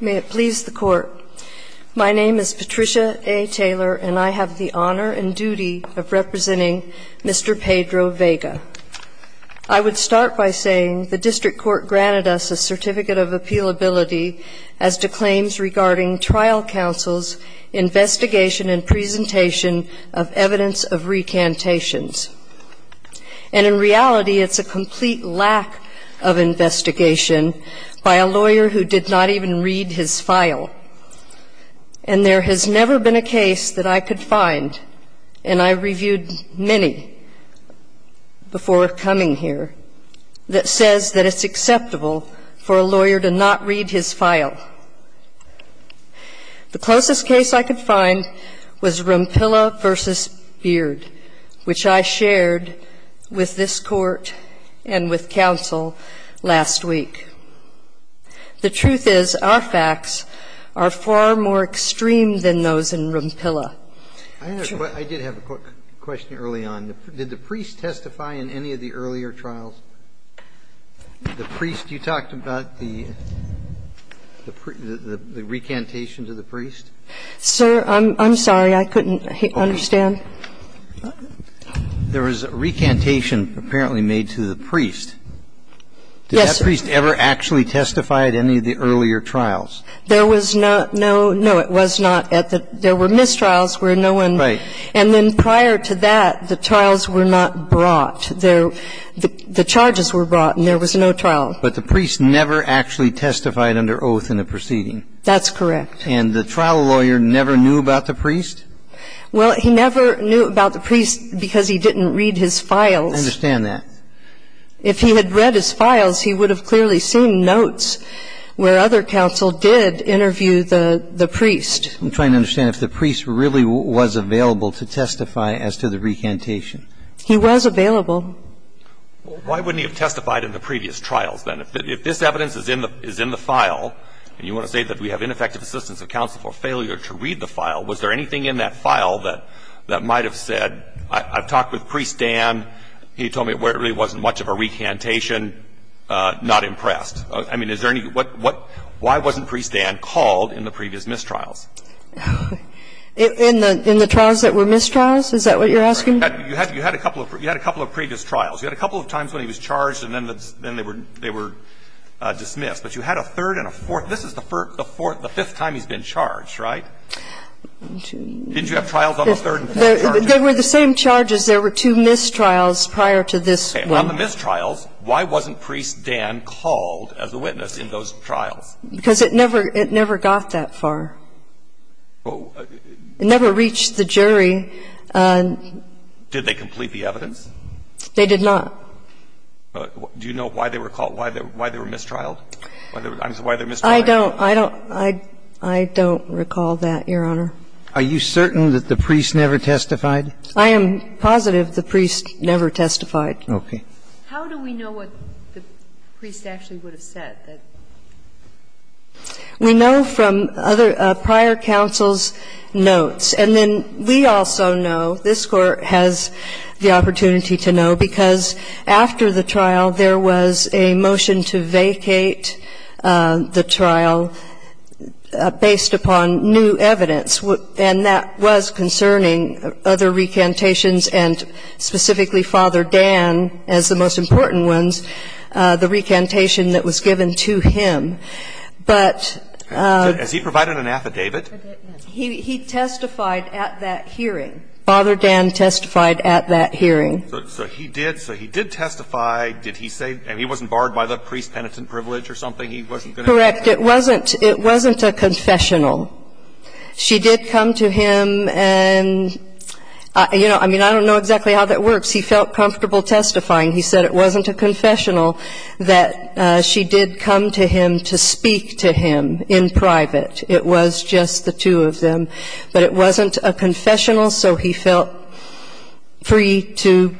May it please the Court. My name is Patricia A. Taylor and I have the honor and duty of representing Mr. Pedro Vega. I would start by saying the District Court granted us a Certificate of Appealability as to claims regarding trial counsel's investigation and presentation of evidence of recantations. And in reality, it's a complete lack of investigation by a lawyer who did not even read his file. And there has never been a case that I could find, and I reviewed many before coming here, that says that it's acceptable for a lawyer to not read his file. The closest case I could find was Rumpilla v. Beard, which I shared with this Court and with counsel last week. The truth is our facts are far more extreme than those in Rumpilla. I did have a quick question early on. Did the priest testify in any of the earlier trials? The priest, you talked about the recantation to the priest? Sir, I'm sorry. I couldn't understand. There was a recantation apparently made to the priest. Yes, sir. Did that priest ever actually testify at any of the earlier trials? There was not. No, no, it was not. There were mistrials where no one. Right. And then prior to that, the trials were not brought. The charges were brought and there was no trial. But the priest never actually testified under oath in the proceeding. That's correct. And the trial lawyer never knew about the priest? Well, he never knew about the priest because he didn't read his files. I understand that. If he had read his files, he would have clearly seen notes where other counsel did interview the priest. I'm trying to understand if the priest really was available to testify as to the recantation. He was available. Why wouldn't he have testified in the previous trials then? If this evidence is in the file, and you want to say that we have ineffective assistance of counsel for failure to read the file, was there anything in that file that might have said, I've talked with Priest Dan, he told me there really wasn't much of a recantation, not impressed? I mean, is there any why wasn't Priest Dan called in the previous mistrials? In the trials that were mistrials? Is that what you're asking? You had a couple of previous trials. You had a couple of times when he was charged and then they were dismissed. But you had a third and a fourth. This is the fifth time he's been charged, right? Didn't you have trials on the third and fourth charges? They were the same charges. There were two mistrials prior to this one. On the mistrials, why wasn't Priest Dan called as a witness in those trials? Because it never got that far. It never reached the jury. Did they complete the evidence? They did not. Do you know why they were called, why they were mistrialed? I don't. I don't recall that, Your Honor. Are you certain that the priest never testified? I am positive the priest never testified. Okay. How do we know what the priest actually would have said? We know from other prior counsel's notes. And then we also know, this Court has the opportunity to know, because after the trial, there was a motion to vacate the trial based upon new evidence, and that was concerning other recantations and specifically Father Dan as the most important one, the recantation that was given to him. But as he provided an affidavit, he testified at that hearing. Father Dan testified at that hearing. So he did. So he did testify. Did he say he wasn't barred by the priest's penitent privilege or something? He wasn't going to testify? Correct. It wasn't a confessional. She did come to him and, you know, I mean, I don't know exactly how that works. He felt comfortable testifying. He said it wasn't a confessional, that she did come to him to speak to him in private. It was just the two of them. But it wasn't a confessional, so he felt free to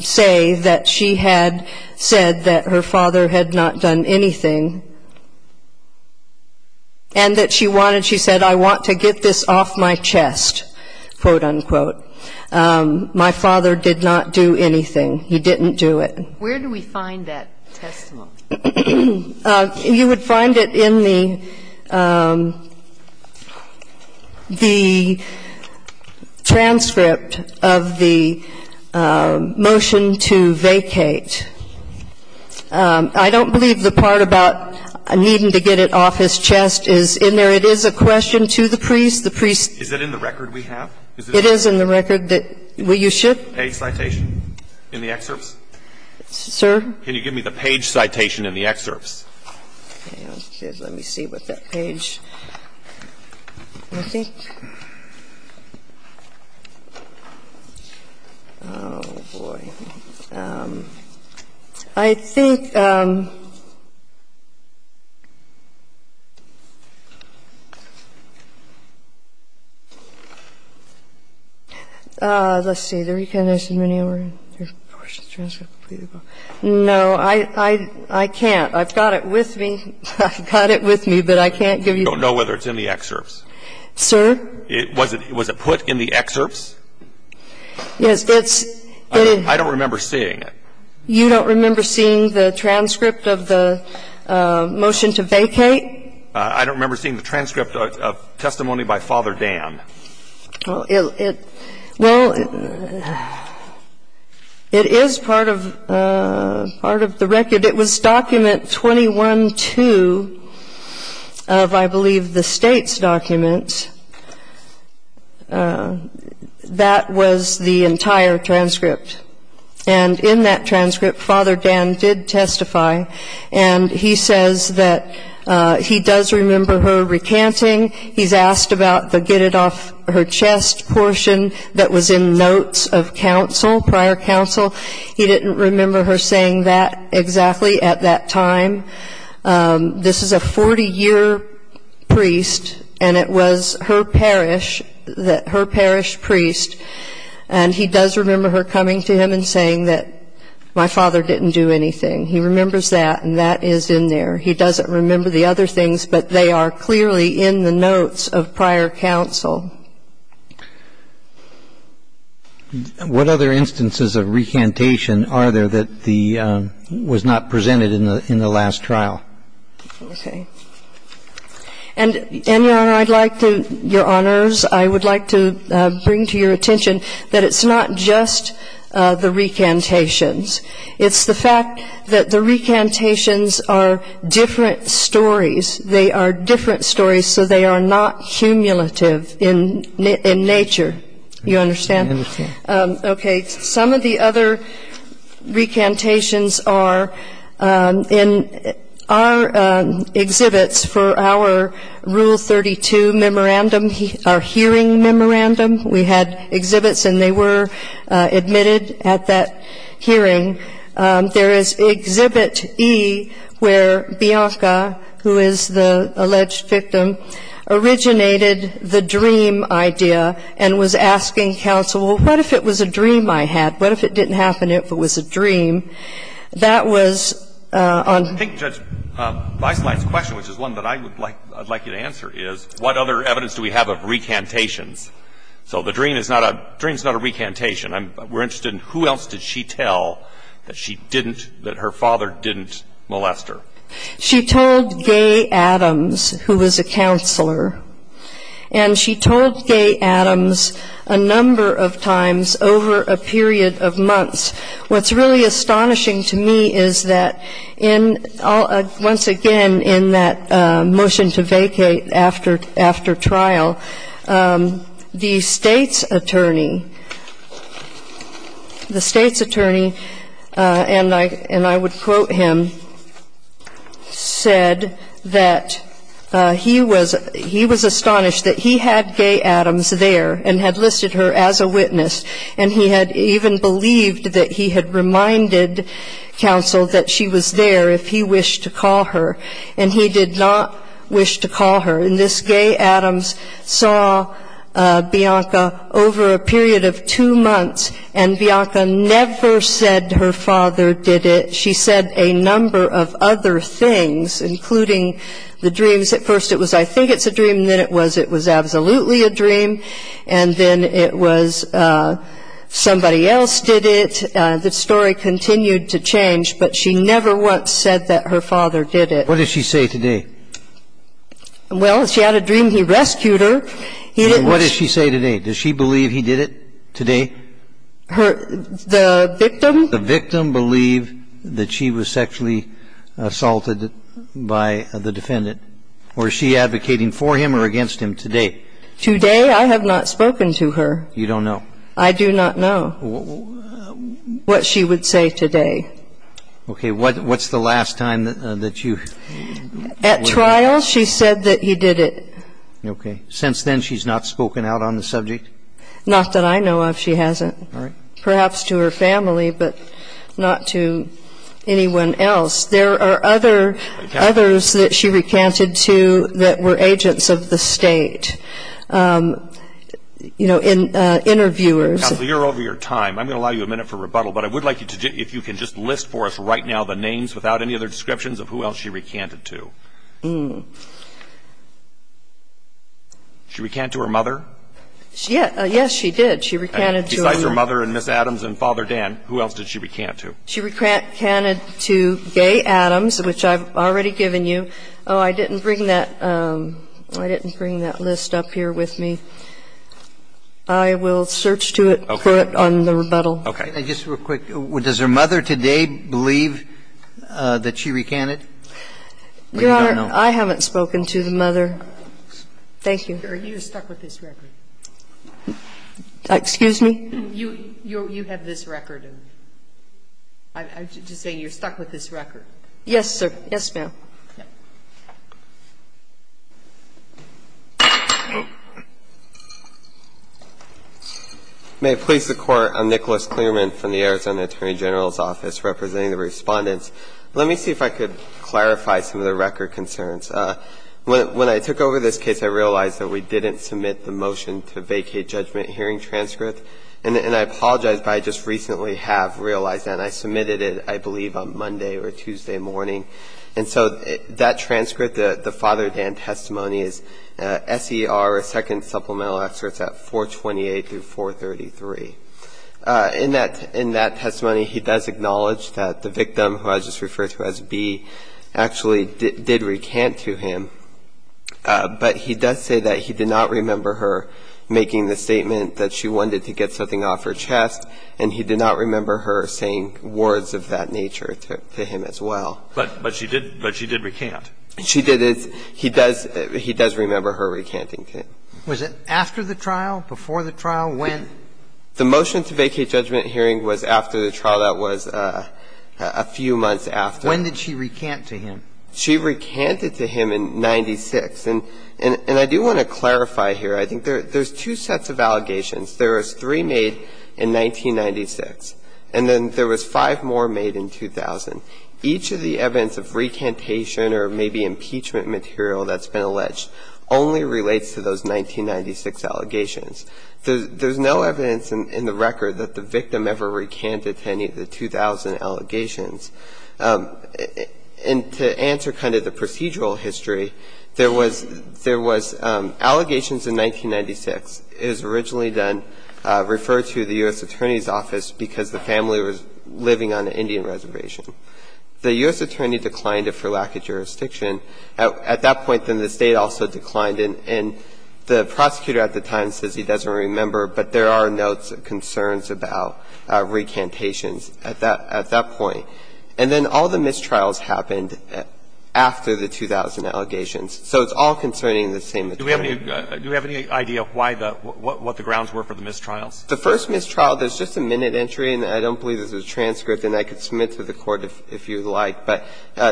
say that she had said that her father had not done anything and that she wanted, she said, I want to get this off my chest, quote, unquote. My father did not do anything. He didn't do it. Where do we find that testimony? You would find it in the transcript of the motion to vacate. I don't believe the part about needing to get it off his chest is in there. It is a question to the priest. Is it in the record we have? It is in the record that you should. Page citation in the excerpts? Sir? Can you give me the page citation in the excerpts? Okay. Let me see what that page. I think. Oh, boy. I think. Let's see. No, I can't. I've got it with me. I've got it with me, but I can't give you. I don't know whether it's in the excerpts. Sir? Was it put in the excerpts? Yes. I don't remember seeing it. You don't remember seeing the transcript of the motion to vacate? I don't remember seeing the transcript of testimony by Father Dan. Well, it is part of the record. It was document 21-2 of, I believe, the State's document. That was the entire transcript. And in that transcript, Father Dan did testify, and he says that he does remember her recanting. He's asked about the get-it-off-her-chest portion that was in notes of council, prior council. He didn't remember her saying that exactly at that time. This is a 40-year priest, and it was her parish priest, and he does remember her coming to him and saying that my father didn't do anything. He remembers that, and that is in there. He doesn't remember the other things, but they are clearly in the notes of prior council. What other instances of recantation are there that was not presented in the last trial? Okay. And, Your Honor, I'd like to, Your Honors, I would like to bring to your attention that it's not just the recantations. It's the fact that the recantations are different stories. They are different stories, so they are not cumulative in nature. You understand? I understand. Okay. Some of the other recantations are in our exhibits for our Rule 32 memorandum, our hearing memorandum. We had exhibits, and they were admitted at that hearing. There is Exhibit E, where Bianca, who is the alleged victim, originated the dream idea and was asking counsel, well, what if it was a dream I had? What if it didn't happen if it was a dream? That was on ---- I think, Judge, my last question, which is one that I would like you to answer, is what other evidence do we have of recantations? So the dream is not a recantation. We're interested in who else did she tell that her father didn't molest her. She told Gay Adams, who was a counselor, and she told Gay Adams a number of times over a period of months. What's really astonishing to me is that, once again, in that motion to vacate after trial, the state's attorney, and I would quote him, said that he was astonished that he had Gay Adams there and had listed her as a witness, and he had even believed that he had reminded counsel that she was there if he wished to call her, and he did not wish to call her. And this Gay Adams saw Bianca over a period of two months, and Bianca never said her father did it. She said a number of other things, including the dreams. At first it was, I think it's a dream, and then it was it was absolutely a dream, and then it was somebody else did it. The story continued to change, but she never once said that her father did it. What did she say today? Well, she had a dream he rescued her. And what did she say today? Does she believe he did it today? The victim? The victim believed that she was sexually assaulted by the defendant. Was she advocating for him or against him today? Today I have not spoken to her. You don't know? I do not know what she would say today. Okay. What's the last time that you? At trial she said that he did it. Okay. Since then she's not spoken out on the subject? Not that I know of she hasn't. All right. Perhaps to her family, but not to anyone else. There are others that she recanted to that were agents of the state, you know, interviewers. Counsel, you're over your time. I'm going to allow you a minute for rebuttal, but I would like you to if you can just list for us right now the names without any other descriptions of who else she recanted to. She recanted to her mother? Yes, she did. She recanted to her mother. Besides her mother and Ms. Adams and Father Dan, who else did she recant to? She recanted to Gay Adams, which I've already given you. Oh, I didn't bring that. I didn't bring that list up here with me. I will search to it, put it on the rebuttal. Okay. Just real quick, does her mother today believe that she recanted? Your Honor, I haven't spoken to the mother. Thank you. Are you stuck with this record? Excuse me? You have this record. I'm just saying you're stuck with this record. Yes, sir. Yes, ma'am. May it please the Court. I'm Nicholas Clearman from the Arizona Attorney General's Office, representing the Respondents. Let me see if I could clarify some of the record concerns. When I took over this case, I realized that we didn't submit the motion to vacate judgment hearing transcript. And I apologize, but I just recently have realized that. And I submitted it, I believe, on Monday or Tuesday morning. And so that transcript, the Father Dan testimony, is S.E.R. second supplemental excerpts at 428 through 433. In that testimony, he does acknowledge that the victim, who I just referred to as B, actually did recant to him. But he does say that he did not remember her making the statement that she wanted to get something off her chest, and he did not remember her saying words of that nature to him as well. But she did recant. She did. He does remember her recanting to him. Was it after the trial, before the trial? When? The motion to vacate judgment hearing was after the trial. That was a few months after. When did she recant to him? She recanted to him in 1996. And I do want to clarify here. I think there's two sets of allegations. There was three made in 1996. And then there was five more made in 2000. Each of the evidence of recantation or maybe impeachment material that's been alleged only relates to those 1996 allegations. There's no evidence in the record that the victim ever recanted to any of the 2000 allegations. And to answer kind of the procedural history, there was allegations in 1996. It was originally then referred to the U.S. Attorney's Office because the family was living on an Indian reservation. The U.S. Attorney declined it for lack of jurisdiction. At that point, then the State also declined it. And the prosecutor at the time says he doesn't remember, but there are notes of concerns about recantations at that point. And then all the mistrials happened after the 2000 allegations. So it's all concerning the same attorney. Do we have any idea why the – what the grounds were for the mistrials? The first mistrial, there's just a minute entry. And I don't believe there's a transcript. And I could submit to the Court if you'd like. But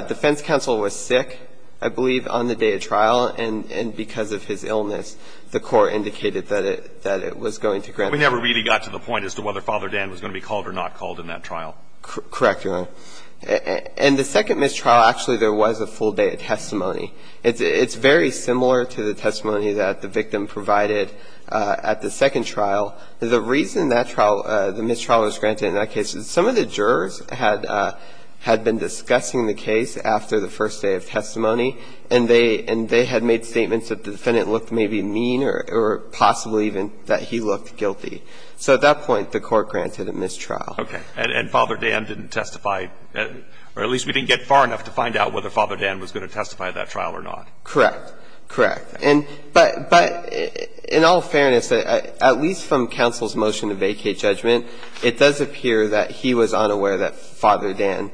defense counsel was sick, I believe, on the day of trial. And because of his illness, the Court indicated that it was going to grant it. We never really got to the point as to whether Father Dan was going to be called or not called in that trial. Correct, Your Honor. And the second mistrial, actually, there was a full day of testimony. It's very similar to the testimony that the victim provided at the second trial. The reason that trial – the mistrial was granted in that case is some of the jurors had been discussing the case after the first day of testimony. And they had made statements that the defendant looked maybe mean or possibly even that he looked guilty. So at that point, the Court granted a mistrial. Okay. And Father Dan didn't testify, or at least we didn't get far enough to find out whether he testified in that trial or not. Correct. Correct. And – but in all fairness, at least from counsel's motion to vacate judgment, it does appear that he was unaware that Father Dan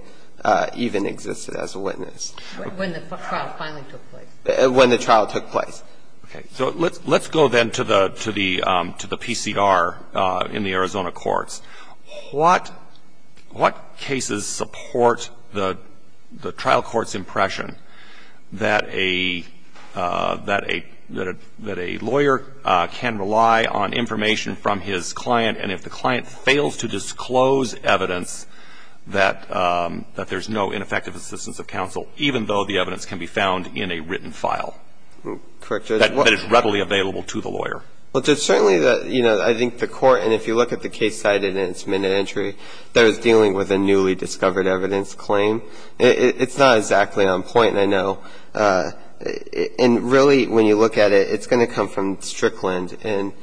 even existed as a witness. When the trial finally took place. When the trial took place. Okay. So let's go then to the PCR in the Arizona courts. What cases support the trial court's impression that a lawyer can rely on information from his client, and if the client fails to disclose evidence, that there's no ineffective assistance of counsel, even though the evidence can be found in a written file that is readily available to the lawyer? Well, there's certainly the, you know, I think the Court, and if you look at the case cited in its minute entry that was dealing with a newly discovered evidence claim, it's not exactly on point, I know. And really, when you look at it, it's going to come from Strickland. And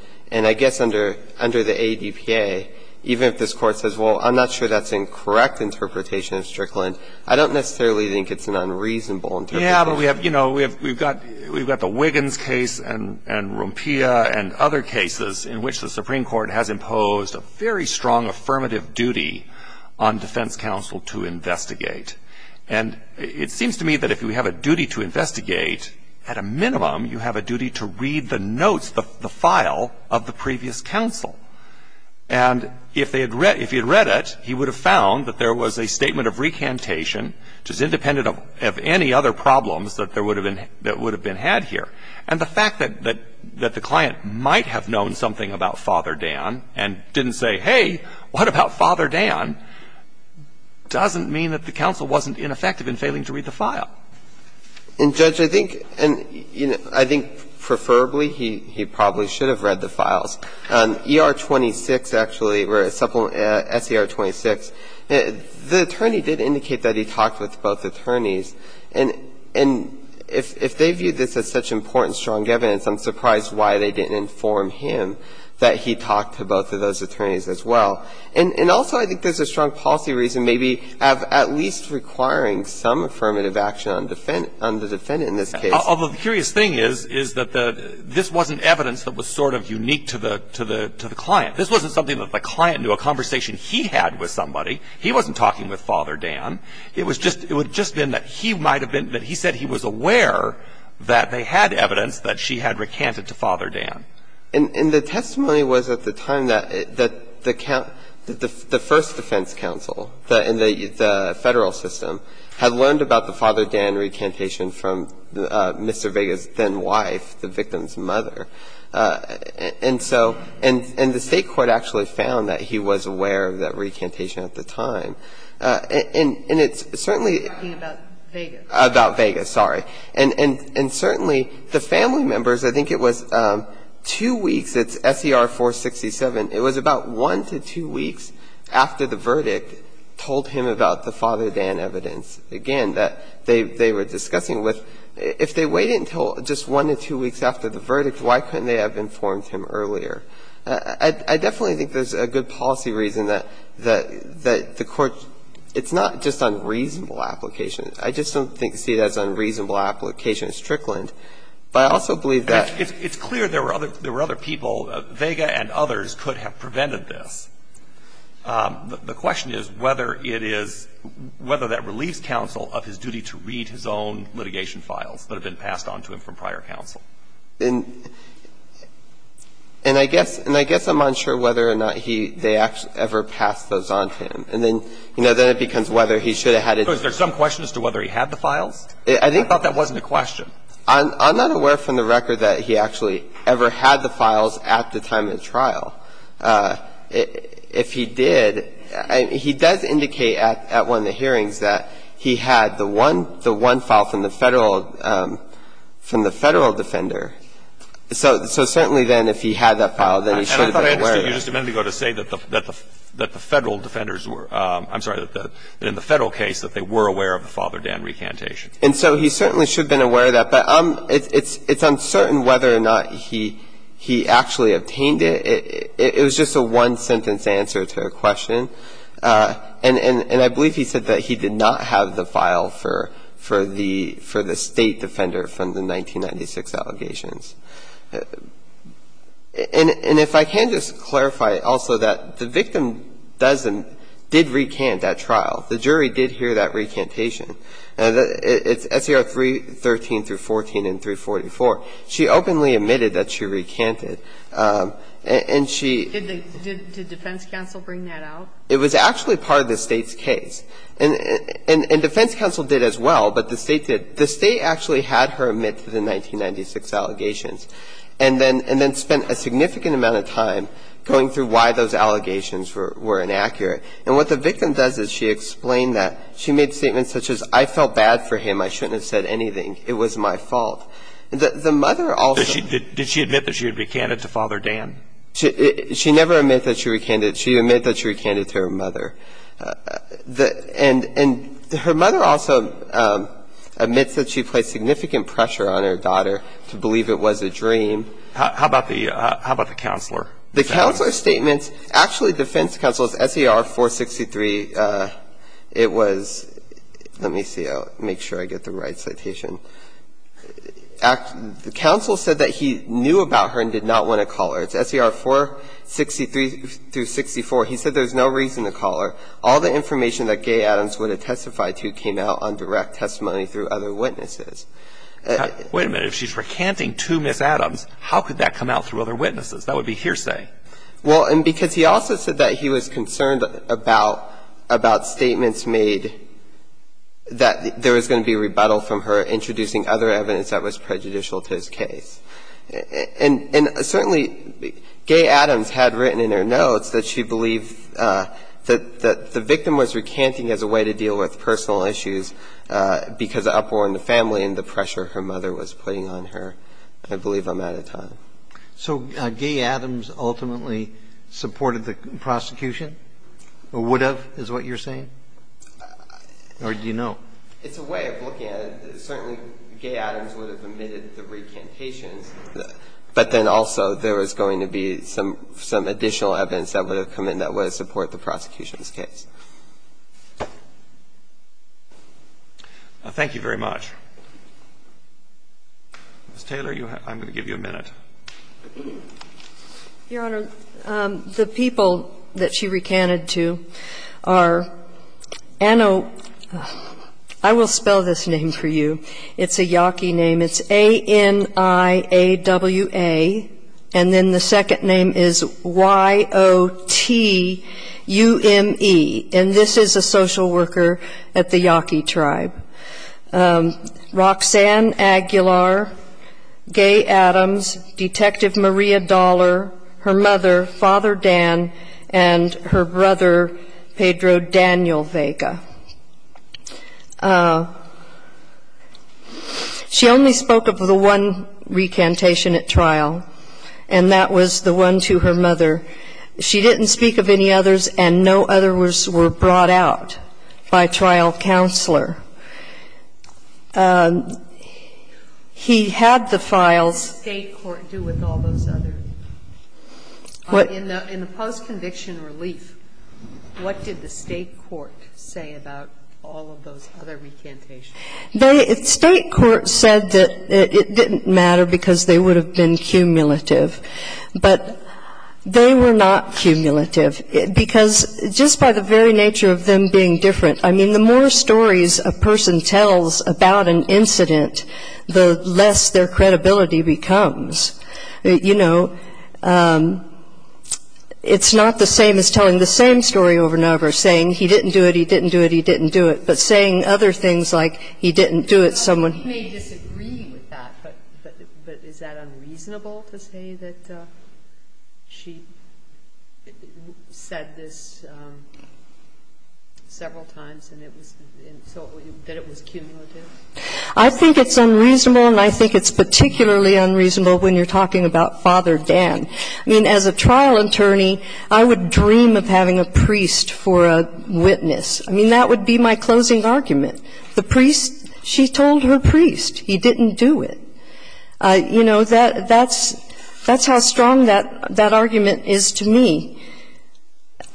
I guess under the ADPA, even if this Court says, well, I'm not sure that's a correct interpretation of Strickland, I don't necessarily think it's an unreasonable interpretation. Yeah, but we have, you know, we've got the Wiggins case and Rumpia and other cases in which the Supreme Court has imposed a very strong affirmative duty on defense counsel to investigate. And it seems to me that if we have a duty to investigate, at a minimum, you have a duty to read the notes, the file, of the previous counsel. And if he had read it, he would have found that there was a statement of recantation, which is independent of any other problems that would have been had here. And the fact that the client might have known something about Father Dan and didn't say, hey, what about Father Dan, doesn't mean that the counsel wasn't ineffective in failing to read the file. And, Judge, I think preferably he probably should have read the files. ER-26, actually, or SER-26, the attorney did indicate that he talked with both attorneys. And if they viewed this as such important, strong evidence, I'm surprised why they didn't inform him that he talked to both of those attorneys as well. And also I think there's a strong policy reason maybe of at least requiring some affirmative action on the defendant in this case. Although the curious thing is, is that this wasn't evidence that was sort of unique to the client. This wasn't something that the client knew, a conversation he had with somebody. He wasn't talking with Father Dan. It was just, it would have just been that he might have been, that he said he was aware that they had evidence that she had recanted to Father Dan. And the testimony was at the time that the first defense counsel in the Federal system had learned about the Father Dan recantation from Mr. Vega's then-wife, the victim's mother. And so, and the State court actually found that he was aware of that recantation at the time. And it's certainly the family members, I think it was two weeks, it's SER-467, it was about one to two weeks after the verdict told him about the Father Dan recantation and evidence, again, that they were discussing with, if they wait until just one to two weeks after the verdict, why couldn't they have informed him earlier? I definitely think there's a good policy reason that the court, it's not just on reasonable application. I just don't think to see it as unreasonable application is trickling. But I also believe that the court could have prevented this. The question is whether it is, whether that relieves counsel of his duty to read his own litigation files that have been passed on to him from prior counsel. And I guess, and I guess I'm unsure whether or not he, they actually ever passed those on to him. And then, you know, then it becomes whether he should have had it. So is there some question as to whether he had the files? I think. I thought that wasn't a question. I'm not aware from the record that he actually ever had the files at the time of the hearing. If he did, he does indicate at one of the hearings that he had the one, the one file from the Federal, from the Federal defender. So certainly then if he had that file, then he should have been aware of it. And I thought I understood you just a minute ago to say that the Federal defenders were, I'm sorry, that in the Federal case that they were aware of the Father Dan recantation. And so he certainly should have been aware of that. But it's uncertain whether or not he actually obtained it. It was just a one-sentence answer to a question. And I believe he said that he did not have the file for the State defender from the 1996 allegations. And if I can just clarify also that the victim doesn't, did recant that trial. The jury did hear that recantation. It's SCR 313 through 14 and 344. She openly admitted that she recanted. And she did. Did the defense counsel bring that out? It was actually part of the State's case. And defense counsel did as well, but the State did. The State actually had her admit to the 1996 allegations and then spent a significant amount of time going through why those allegations were inaccurate. And what the victim does is she explained that. She made statements such as, I felt bad for him. I shouldn't have said anything. It was my fault. The mother also. Did she admit that she had recanted to Father Dan? She never admit that she recanted. She admit that she recanted to her mother. And her mother also admits that she placed significant pressure on her daughter to believe it was a dream. How about the counselor? The counselor's statements, actually defense counsel's SCR 463, it was, let me see. I'll make sure I get the right citation. Counsel said that he knew about her and did not want to call her. It's SCR 463 through 64. He said there's no reason to call her. All the information that Gaye Adams would have testified to came out on direct testimony through other witnesses. Wait a minute. If she's recanting to Ms. Adams, how could that come out through other witnesses? That would be hearsay. Well, and because he also said that he was concerned about statements made that there was prejudicial to his case. And certainly Gaye Adams had written in her notes that she believed that the victim was recanting as a way to deal with personal issues because of uproar in the family and the pressure her mother was putting on her. I believe I'm out of time. So Gaye Adams ultimately supported the prosecution or would have is what you're saying? Or do you know? It's a way of looking at it. Certainly, Gaye Adams would have admitted the recantations, but then also there was going to be some additional evidence that would have come in that would have supported the prosecution's case. Thank you very much. Ms. Taylor, I'm going to give you a minute. Your Honor, the people that she recanted to are Ano, I will spell this name for you. It's a Yaqui name. It's A-N-I-A-W-A. And then the second name is Y-O-T-U-M-E. And this is a social worker at the Yaqui tribe. Roxanne Aguilar, Gaye Adams, Detective Maria Dollar, her mother, Father Dan, and her brother, Pedro Daniel Vega. She only spoke of the one recantation at trial, and that was the one to her mother. She didn't speak of any others, and no others were brought out by trial counselor. He had the files. What did the state court do with all those others? In the post-conviction relief, what did the state court say about all of those other recantations? The state court said that it didn't matter because they would have been cumulative. But they were not cumulative because just by the very nature of them being different, I mean, the more stories a person tells about an incident, the less their credibility becomes. You know, it's not the same as telling the same story over and over, saying he didn't do it, he didn't do it, he didn't do it, but saying other things like he didn't do it, someone else did. But is that unreasonable to say that she said this several times and that it was cumulative? I think it's unreasonable, and I think it's particularly unreasonable when you're talking about Father Dan. I mean, as a trial attorney, I would dream of having a priest for a witness. I mean, that would be my closing argument. The priest, she told her priest he didn't do it. You know, that's how strong that argument is to me.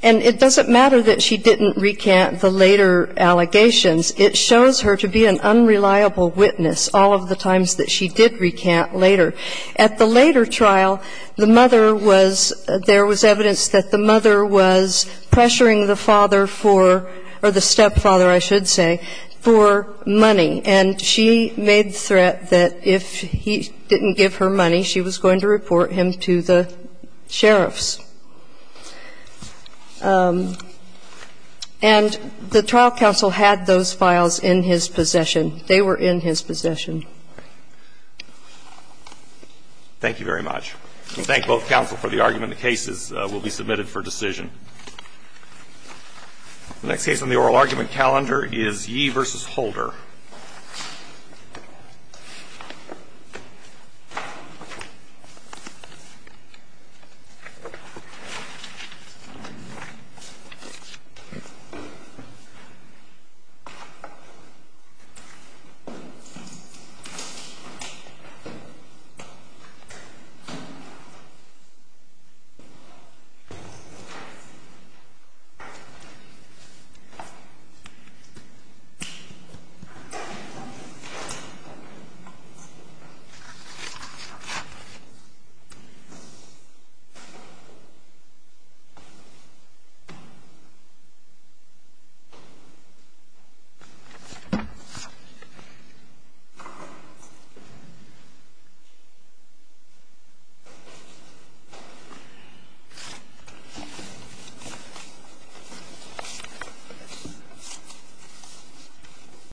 And it doesn't matter that she didn't recant the later allegations. It shows her to be an unreliable witness all of the times that she did recant later. At the later trial, the mother was, there was evidence that the mother was pressuring the father for, or the stepfather, I should say, for money. And she made the threat that if he didn't give her money, she was going to report him to the sheriffs. And the trial counsel had those files in his possession. They were in his possession. Thank you very much. We thank both counsel for the argument. The cases will be submitted for decision. The next case on the oral argument calendar is Yee v. Holder. Thank you. Thank you.